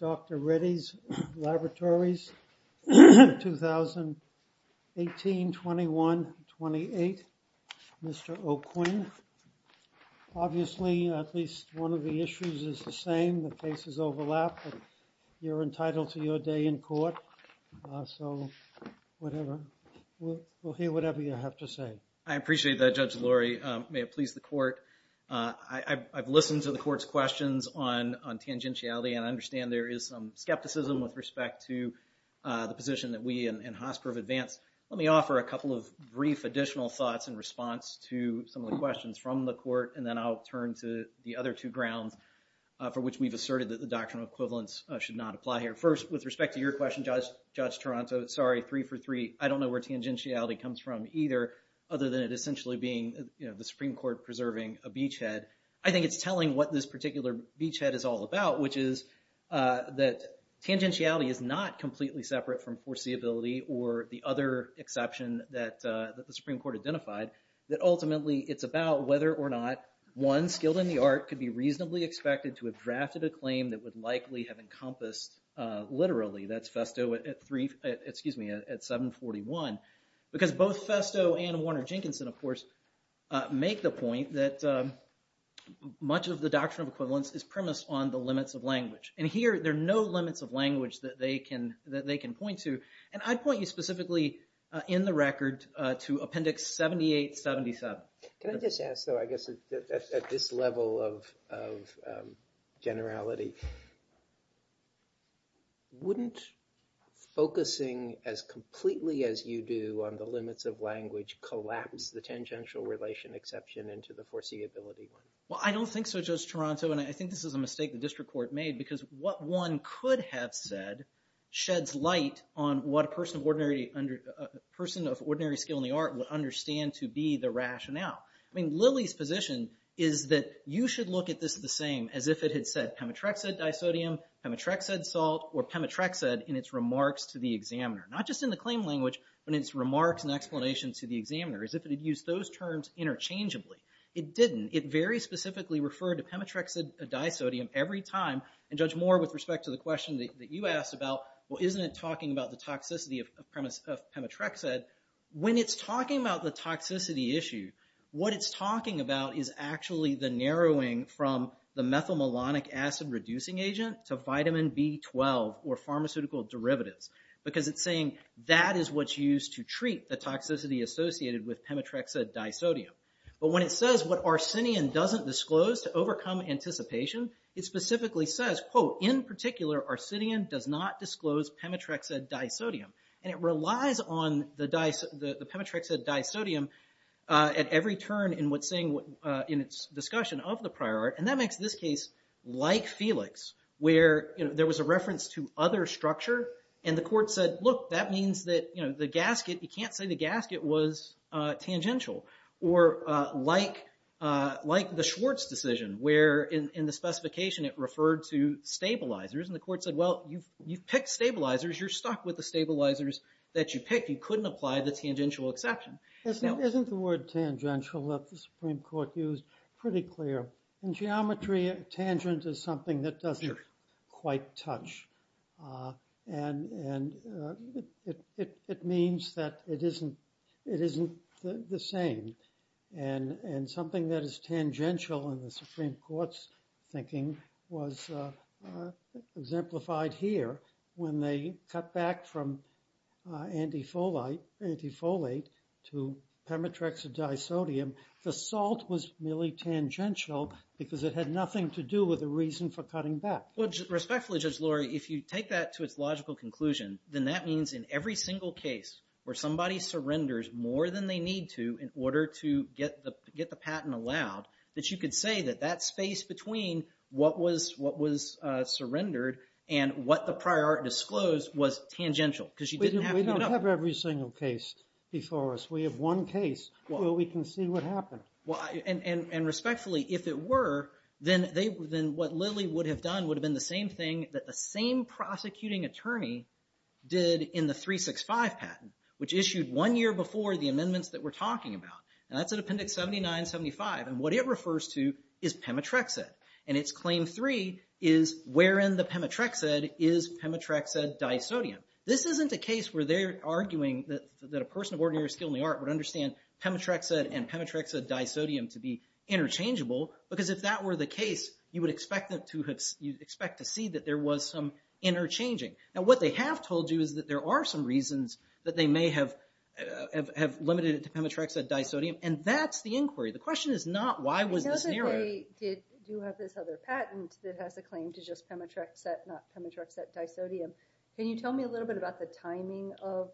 Dr. Reddy's Laboratories, Ltd 1821-28, Mr. O'Quinn. Obviously, at least one of the issues is the same. The cases overlap, but you're entitled to your day in court. So, whatever. We'll hear whatever you have to say. I appreciate that, Judge Lurie. May it please the court. I've listened to the court's questions on tangentiality, and I understand there is some skepticism with respect to the position that we in Hosper have advanced. Let me offer a couple of brief additional thoughts in response to some of the questions from the court, and then I'll turn to the other two grounds for which we've asserted that the doctrinal equivalence should not apply here. First, with respect to your question, Judge Toronto, sorry, three for three, I don't know where tangentiality comes from either, other than it essentially being the Supreme Court preserving a beachhead. I think it's telling what this particular beachhead is all about, which is that tangentiality is not completely separate from foreseeability or the other exception that the Supreme Court identified. Ultimately, it's about whether or not one skilled in the art could be reasonably expected to have drafted a claim that would likely have encompassed, literally, that's Festo at 741. Because both Festo and Warner Jenkinson, of course, make the point that much of the doctrinal equivalence is premised on the limits of language. Here, there are no limits of language that they can point to, and I'd point you specifically in the record to Appendix 7877. Can I just ask, though, I guess at this level of generality, wouldn't focusing as completely as you do on the limits of language collapse the tangential relation exception into the foreseeability one? Well, I don't think so, Judge Toronto, and I think this is a mistake the district court made, because what one could have said sheds light on what a person of ordinary skill in the art would understand to be the rationale. I mean, Lilly's position is that you should look at this the same as if it had said pemetrexed disodium, pemetrexed salt, or pemetrexed in its remarks to the examiner. Not just in the claim language, but in its remarks and explanations to the examiner, as if it had used those terms interchangeably. It didn't. It very specifically referred to pemetrexed disodium every time, and Judge Moore, with respect to the question that you asked about, well, isn't it talking about the toxicity of pemetrexed? When it's talking about the toxicity issue, what it's talking about is actually the narrowing from the methylmalonic acid-reducing agent to vitamin B12 or pharmaceutical derivatives, because it's saying that is what's used to treat the toxicity associated with pemetrexed disodium. But when it says what arsinian doesn't disclose to overcome anticipation, it specifically says, quote, in particular, arsinian does not disclose pemetrexed disodium. And it relies on the pemetrexed disodium at every turn in its discussion of the prior art. And that makes this case like Felix, where there was a reference to other structure, and the court said, look, that means that the gasket, you can't say the gasket was tangential. Or like the Schwartz decision, where in the specification, it referred to stabilizers. And the court said, well, you've picked stabilizers. You're stuck with the stabilizers that you picked. You couldn't apply the tangential exception. Isn't the word tangential that the Supreme Court used pretty clear? In geometry, tangent is something that doesn't quite touch. And it means that it isn't the same. And something that is tangential in the Supreme Court's thinking was exemplified here. When they cut back from antifolate to pemetrexed disodium, the salt was merely tangential because it had nothing to do with the reason for cutting back. Well, respectfully, Judge Lurie, if you take that to its logical conclusion, then that means in every single case where somebody surrenders more than they need to in order to get the patent allowed, that you could say that that space between what was surrendered and what the prior art disclosed was tangential. We don't have every single case before us. We have one case where we can see what happened. And respectfully, if it were, then what Lilly would have done would have been the same thing that the same prosecuting attorney did in the 365 patent, which issued one year before the amendments that we're talking about. And that's in Appendix 79-75. And what it refers to is pemetrexed. And its Claim 3 is wherein the pemetrexed is pemetrexed disodium. This isn't a case where they're arguing that a person of ordinary skill in the art would understand pemetrexed and pemetrexed disodium to be interchangeable. Because if that were the case, you would expect to see that there was some interchanging. Now, what they have told you is that there are some reasons that they may have limited it to pemetrexed disodium. And that's the inquiry. The question is not why was this narrowed. I do have this other patent that has a claim to just pemetrexed, not pemetrexed disodium. Can you tell me a little bit about the timing of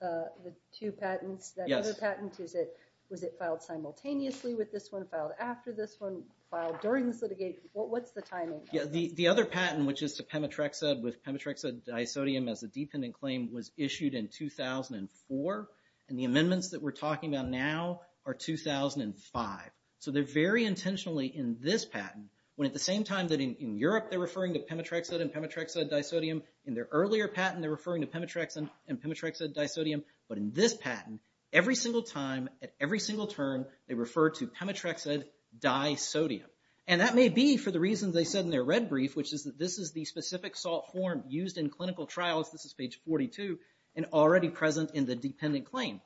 the two patents? That other patent, was it filed simultaneously with this one, filed after this one, filed during this litigation? What's the timing? The other patent, which is to pemetrexed with pemetrexed disodium as a dependent claim, was issued in 2004. And the amendments that we're talking about now are 2005. So they're very intentionally, in this patent, when at the same time that in Europe they're referring to pemetrexed and pemetrexed disodium, in their earlier patent they're referring to pemetrexed and pemetrexed disodium, but in this patent, every single time, at every single term, they refer to pemetrexed disodium. And that may be for the reasons they said in their red brief, which is that this is the specific salt form used in clinical trials, this is page 42, and already present in the dependent claims.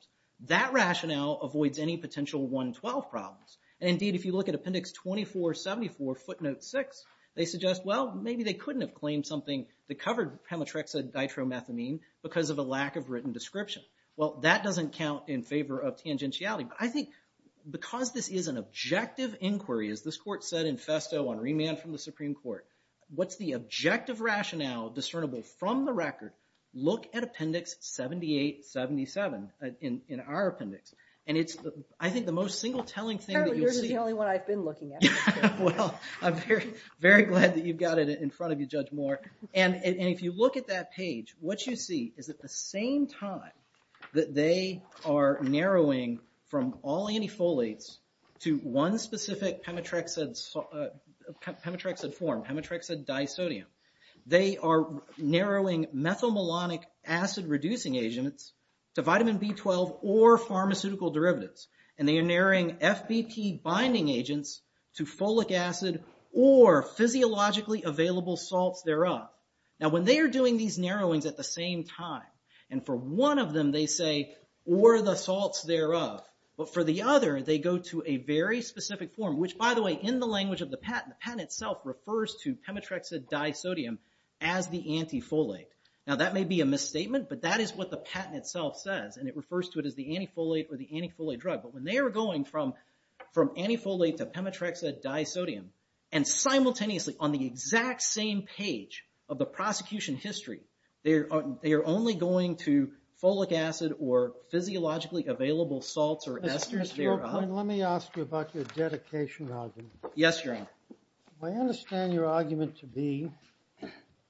That rationale avoids any potential 112 problems. And indeed, if you look at Appendix 2474, footnote 6, they suggest, well, maybe they couldn't have claimed something that covered pemetrexed ditromethamine because of a lack of written description. Well, that doesn't count in favor of tangentiality. But I think because this is an objective inquiry, as this Court said in festo on remand from the Supreme Court, what's the objective rationale discernible from the record? Look at Appendix 7877 in our appendix. And it's, I think, the most single-telling thing that you'll see. Apparently, yours is the only one I've been looking at. Well, I'm very glad that you've got it in front of you, Judge Moore. And if you look at that page, what you see is at the same time that they are narrowing from all antifolates to one specific pemetrexed form, pemetrexed disodium, they are narrowing methylmalonic acid-reducing agents to vitamin B12 or pharmaceutical derivatives. And they are narrowing FBP binding agents to folic acid or physiologically available salts thereof. Now, when they are doing these narrowings at the same time, and for one of them they say, or the salts thereof, but for the other they go to a very specific form, which, by the way, in the language of the patent, the patent itself refers to pemetrexed disodium as the antifolate. Now, that may be a misstatement, but that is what the patent itself says, and it refers to it as the antifolate or the antifolate drug. But when they are going from antifolate to pemetrexed disodium, and simultaneously on the exact same page of the prosecution history, they are only going to folic acid or physiologically available salts or esters thereof. Mr. O'Kane, let me ask you about your dedication argument. Yes, Your Honor. I understand your argument to be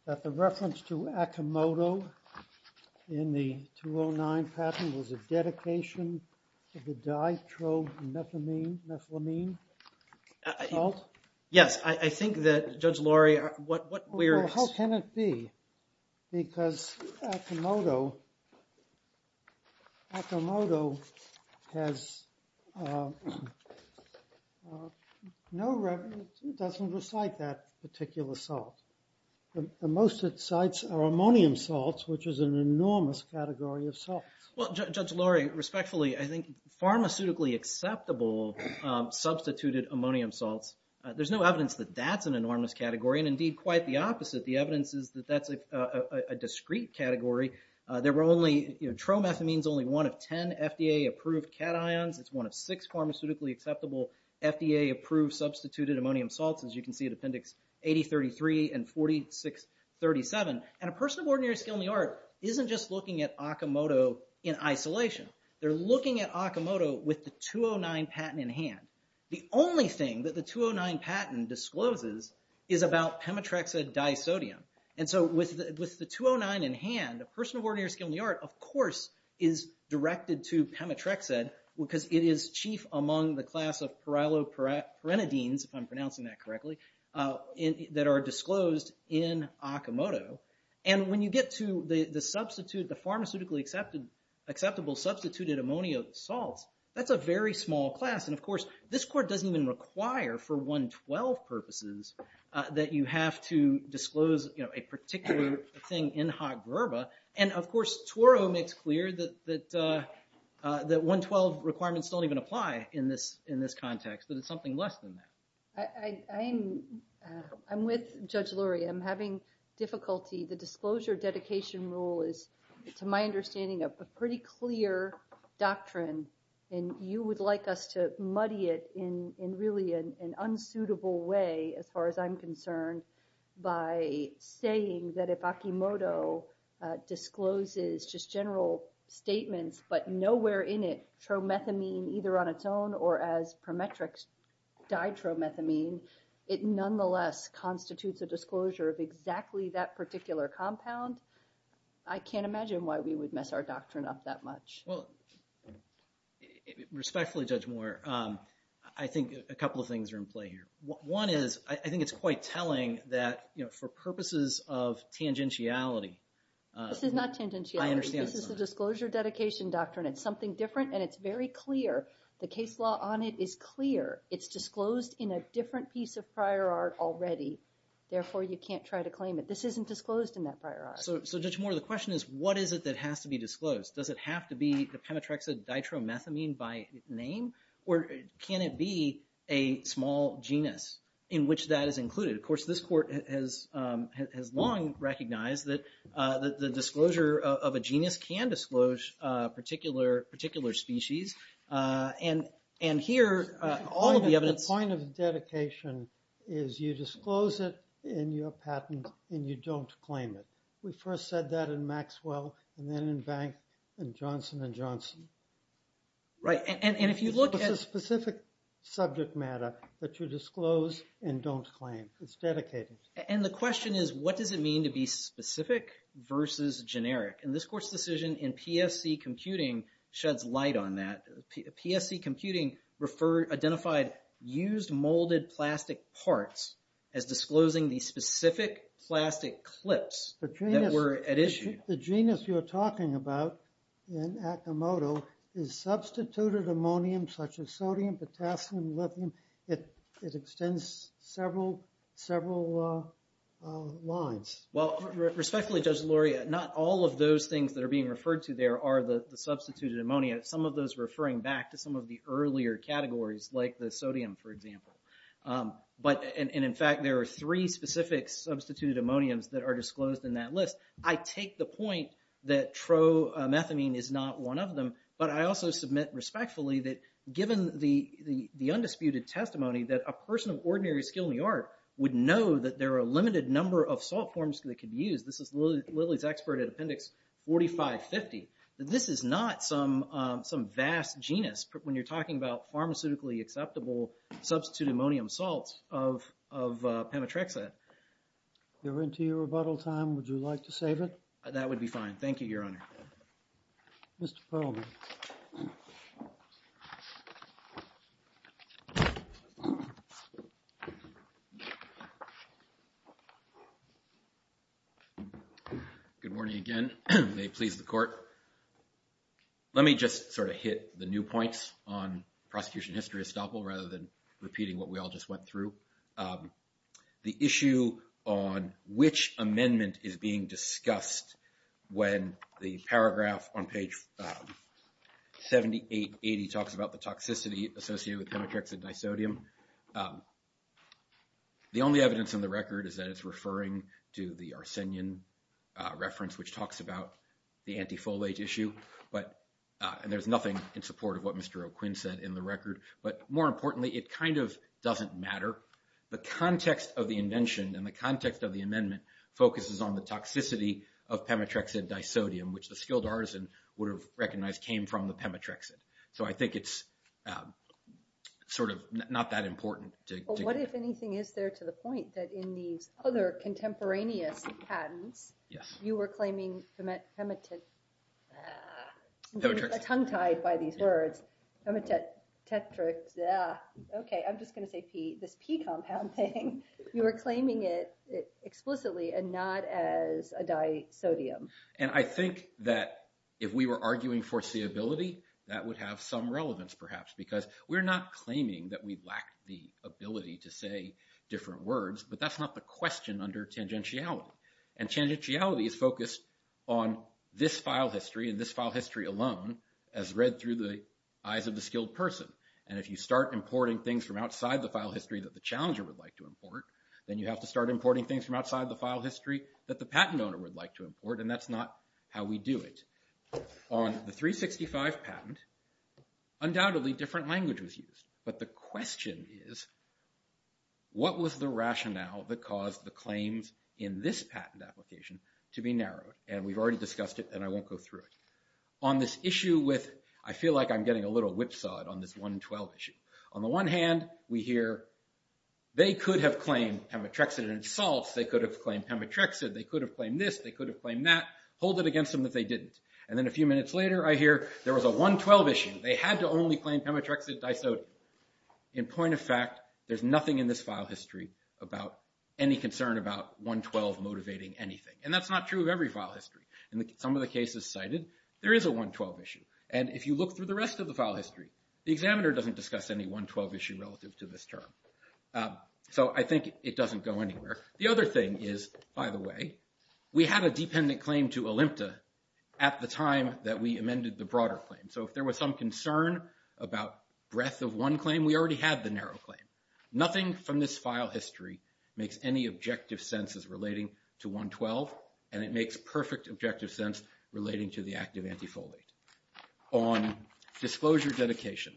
that the reference to Akimoto in the 209 patent was a dedication to the ditro-methylamine salt? Yes, I think that, Judge Laurie, what we're... Because Akimoto has no reference... It doesn't recite that particular salt. The most it cites are ammonium salts, which is an enormous category of salts. Well, Judge Laurie, respectfully, I think pharmaceutically acceptable substituted ammonium salts, there's no evidence that that's an enormous category, and indeed quite the opposite. The evidence is that that's a discrete category. Tromethylamine is only one of 10 FDA-approved cations. It's one of six pharmaceutically acceptable FDA-approved substituted ammonium salts, as you can see at Appendix 8033 and 4637. And a person of ordinary skill in the art isn't just looking at Akimoto in isolation. They're looking at Akimoto with the 209 patent in hand. The only thing that the 209 patent discloses is about pemetrexid disodium. And so with the 209 in hand, a person of ordinary skill in the art, of course, is directed to pemetrexid because it is chief among the class of pyrilopyrinidines, if I'm pronouncing that correctly, that are disclosed in Akimoto. And when you get to the pharmaceutically acceptable substituted ammonium salts, that's a very small class. And, of course, this court doesn't even require for 112 purposes that you have to disclose a particular thing in hot grubba. And, of course, Turo makes clear that 112 requirements don't even apply in this context, that it's something less than that. I'm with Judge Lurie. I'm having difficulty. The disclosure dedication rule is, to my understanding, a pretty clear doctrine, and you would like us to muddy it in really an unsuitable way, as far as I'm concerned, by saying that if Akimoto discloses just general statements but nowhere in it tromethamine either on its own or as pemetrex did tromethamine, it nonetheless constitutes a disclosure of exactly that particular compound. I can't imagine why we would mess our doctrine up that much. Well, respectfully, Judge Moore, I think a couple of things are in play here. One is I think it's quite telling that for purposes of tangentiality. This is not tangentiality. This is a disclosure dedication doctrine. It's something different, and it's very clear. The case law on it is clear. It's disclosed in a different piece of prior art already. Therefore, you can't try to claim it. This isn't disclosed in that prior art. So, Judge Moore, the question is, what is it that has to be disclosed? Does it have to be the pemetrexid ditromethamine by name, or can it be a small genus in which that is included? Of course, this court has long recognized that the disclosure of a genus can disclose a particular species, and here all of the evidence… The point of dedication is you disclose it in your patent, and you don't claim it. We first said that in Maxwell, and then in Bank, and Johnson & Johnson. Right, and if you look at… It's a specific subject matter that you disclose and don't claim. It's dedicated. And the question is, what does it mean to be specific versus generic? And this court's decision in PSC Computing sheds light on that. PSC Computing identified used molded plastic parts as disclosing the specific plastic clips that were at issue. The genus you're talking about in Akimoto is substituted ammonium, such as sodium, potassium, lithium. It extends several lines. Well, respectfully, Judge Luria, not all of those things that are being referred to there are the substituted ammonia, some of those referring back to some of the earlier categories, like the sodium, for example. And in fact, there are three specific substituted ammoniums that are disclosed in that list. I take the point that tromethamine is not one of them, but I also submit respectfully that given the undisputed testimony that a person of ordinary skill in the art would know that there are a limited number of salt forms that could be used, this is Lilly's expert at appendix 4550, that this is not some vast genus when you're talking about pharmaceutically acceptable substituted ammonium salts of Pemetrexate. We're into your rebuttal time. Would you like to save it? That would be fine. Thank you, Your Honor. Mr. Perlman. Good morning again. May it please the court. Let me just sort of hit the new points on prosecution history estoppel rather than repeating what we all just went through. The issue on which amendment is being discussed when the paragraph on page 7880 talks about the toxicity associated with Pemetrexate disodium. The only evidence in the record is that it's referring to the Arsenian reference, which talks about the anti-folate issue. And there's nothing in support of what Mr. O'Quinn said in the record. But more importantly, it kind of doesn't matter. The context of the invention and the context of the amendment focuses on the toxicity of Pemetrexate disodium, which the skilled artisan would have recognized came from the Pemetrexate. So I think it's sort of not that important. But what, if anything, is there to the point that in these other contemporaneous patents, you were claiming Pemetrexate, a tongue tied by these words, Pemetrexate. OK, I'm just going to say P, this P compound thing. You were claiming it explicitly and not as a disodium. And I think that if we were arguing foreseeability, that would have some relevance, perhaps, because we're not claiming that we lack the ability to say different words. But that's not the question under tangentiality. And tangentiality is focused on this file history and this file history alone, as read through the eyes of the skilled person. And if you start importing things from outside the file history that the challenger would like to import, then you have to start importing things from outside the file history that the patent owner would like to import. And that's not how we do it. On the 365 patent, undoubtedly, different language was used. But the question is, what was the rationale that caused the claims in this patent application to be narrowed? And we've already discussed it, and I won't go through it. On this issue with, I feel like I'm getting a little whipsawed on this 112 issue. On the one hand, we hear, they could have claimed Pemetrexate and it solves. They could have claimed Pemetrexate. They could have claimed this. They could have claimed that. Hold it against them that they didn't. And then a few minutes later, I hear, there was a 112 issue. They had to only claim Pemetrexate, Dysote. In point of fact, there's nothing in this file history about any concern about 112 motivating anything. And that's not true of every file history. In some of the cases cited, there is a 112 issue. And if you look through the rest of the file history, the examiner doesn't discuss any 112 issue relative to this term. So I think it doesn't go anywhere. The other thing is, by the way, we had a dependent claim to Olympta at the time that we amended the broader claim. So if there was some concern about breadth of one claim, we already had the narrow claim. Nothing from this file history makes any objective sense as relating to 112, and it makes perfect objective sense relating to the act of antifoley. On disclosure dedication,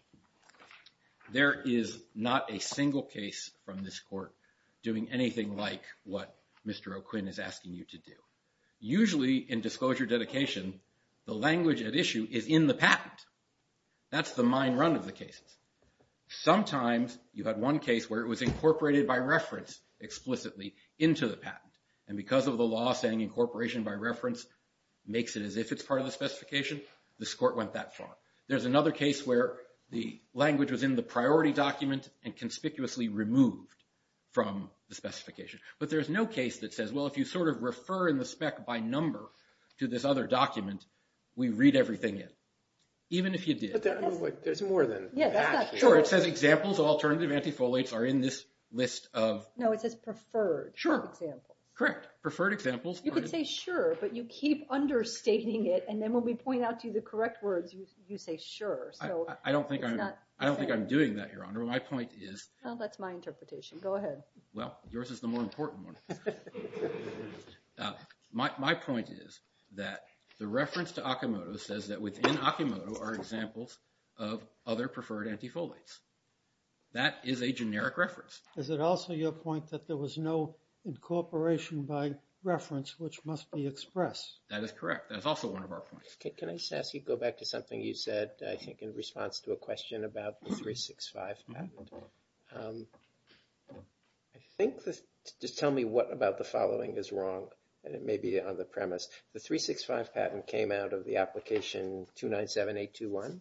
there is not a single case from this court doing anything like what Mr. O'Quinn is asking you to do. Usually in disclosure dedication, the language at issue is in the patent. That's the mind run of the cases. Sometimes you had one case where it was incorporated by reference explicitly into the patent. And because of the law saying incorporation by reference makes it as if it's part of the specification, this court went that far. There's another case where the language was in the priority document and conspicuously removed from the specification. But there's no case that says, well, if you sort of refer in the spec by number to this other document, we read everything in, even if you did. But there's more than that. Sure, it says examples of alternative antifolates are in this list of... Correct, preferred examples. You could say sure, but you keep understating it. And then when we point out to you the correct words, you say sure. I don't think I'm doing that, Your Honor. My point is... Well, that's my interpretation. Go ahead. Well, yours is the more important one. My point is that the reference to Akimoto says that within Akimoto are examples of other preferred antifolates. That is a generic reference. Is it also your point that there was no incorporation by reference which must be expressed? That is correct. That is also one of our points. Can I ask you to go back to something you said, I think, in response to a question about the 365 patent? I think just tell me what about the following is wrong, and it may be on the premise. The 365 patent came out of the application 297821. Is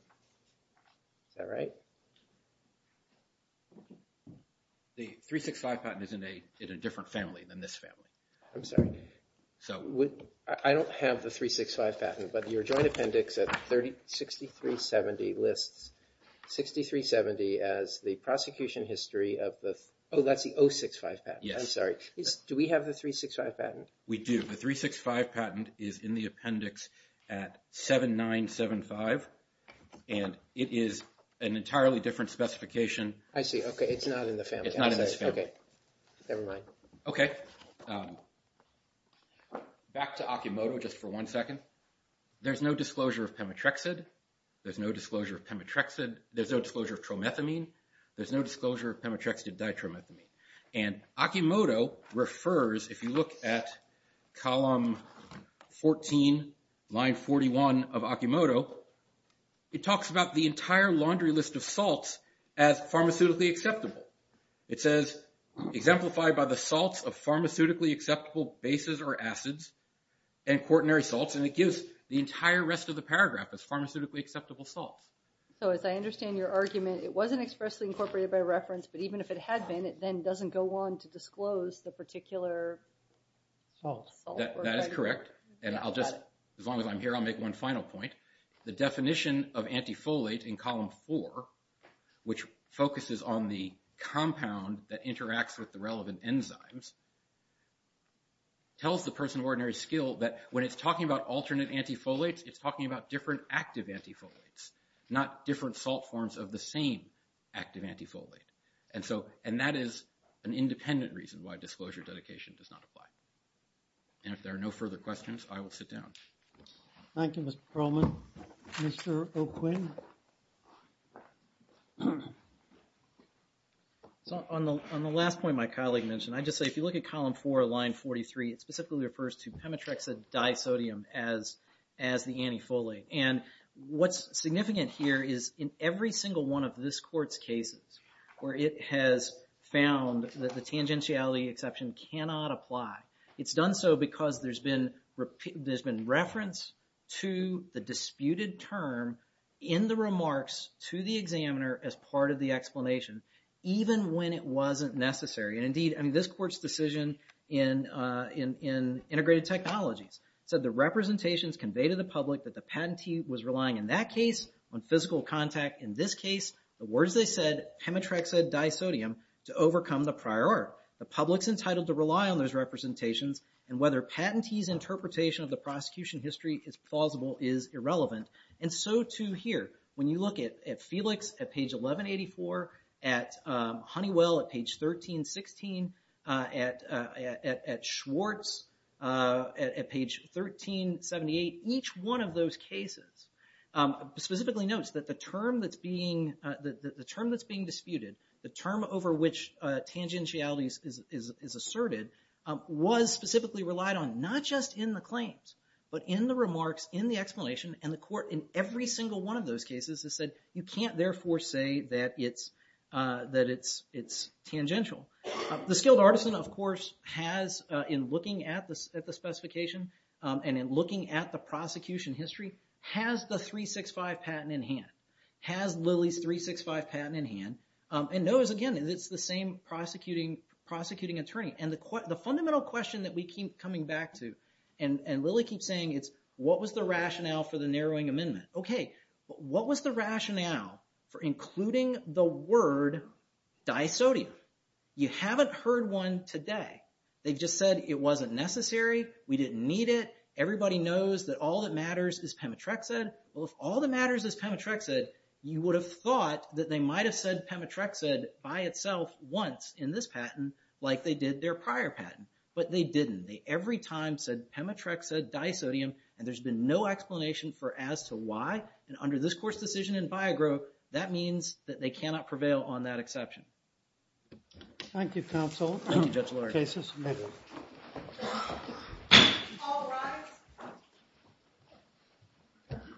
that right? The 365 patent is in a different family than this family. I'm sorry. I don't have the 365 patent, but your joint appendix at 6370 lists 6370 as the prosecution history of the... Oh, that's the 065 patent. Yes. I'm sorry. Do we have the 365 patent? We do. The 365 patent is in the appendix at 7975, and it is an entirely different specification. I see. Okay. It's not in the family. It's not in this family. Okay. Never mind. Okay. Back to Akimoto just for one second. There's no disclosure of pemetrexid. There's no disclosure of pemetrexid. There's no disclosure of tromethamine. There's no disclosure of pemetrexid ditromethamine. And Akimoto refers, if you look at column 14, line 41 of Akimoto, it talks about the entire laundry list of salts as pharmaceutically acceptable. It says exemplified by the salts of pharmaceutically acceptable bases or acids and quaternary salts, and it gives the entire rest of the paragraph as pharmaceutically acceptable salts. So as I understand your argument, it wasn't expressly incorporated by reference, but even if it had been, it then doesn't go on to disclose the particular salt. That is correct. And I'll just, as long as I'm here, I'll make one final point. The definition of antifolate in column four, which focuses on the compound that interacts with the relevant enzymes, tells the person of ordinary skill that when it's talking about alternate antifolates, it's talking about different active antifolates, not different salt forms of the same active antifolate. And so, and that is an independent reason why disclosure dedication does not apply. And if there are no further questions, I will sit down. Thank you, Mr. Perlman. Mr. O'Quinn. So on the last point my colleague mentioned, I just say if you look at column four, line 43, it specifically refers to pemetrexidisodium as the antifolate. And what's significant here is in every single one of this court's cases where it has found that the tangentiality exception cannot apply, it's done so because there's been reference to the disputed term in the remarks to the examiner as part of the explanation, even when it wasn't necessary. And indeed, I mean, this court's decision in integrated technologies said the representations conveyed to the public that the patentee was relying, in that case, on physical contact. In this case, the words they said, pemetrexidisodium, to overcome the prior art. The public's entitled to rely on those representations. And whether patentee's interpretation of the prosecution history is plausible is irrelevant. And so too here. When you look at Felix at page 1184, at Honeywell at page 1316, at Schwartz at page 1378, each one of those cases specifically notes that the term that's being, the term that's being disputed, the term over which tangentiality is asserted, was specifically relied on. Not just in the claims, but in the remarks, in the explanation, and the court in every single one of those cases has said, you can't therefore say that it's tangential. The skilled artisan, of course, has, in looking at the specification, and in looking at the prosecution history, has the 365 patent in hand. Has Lilly's 365 patent in hand, and knows, again, it's the same prosecuting attorney. And the fundamental question that we keep coming back to, and Lilly keeps saying, it's, what was the rationale for the narrowing amendment? Okay, but what was the rationale for including the word disodium? You haven't heard one today. They've just said, it wasn't necessary. We didn't need it. Everybody knows that all that matters is pemetrexid. Well, if all that matters is pemetrexid, you would have thought that they might have said pemetrexid by itself once in this patent, like they did their prior patent. But they didn't. They every time said, pemetrexid, disodium, and there's been no explanation for as to why. And under this court's decision in Viagro, that means that they cannot prevail on that exception. Thank you, counsel. Thank you, Judge LaRocque. Case is submitted. All rise.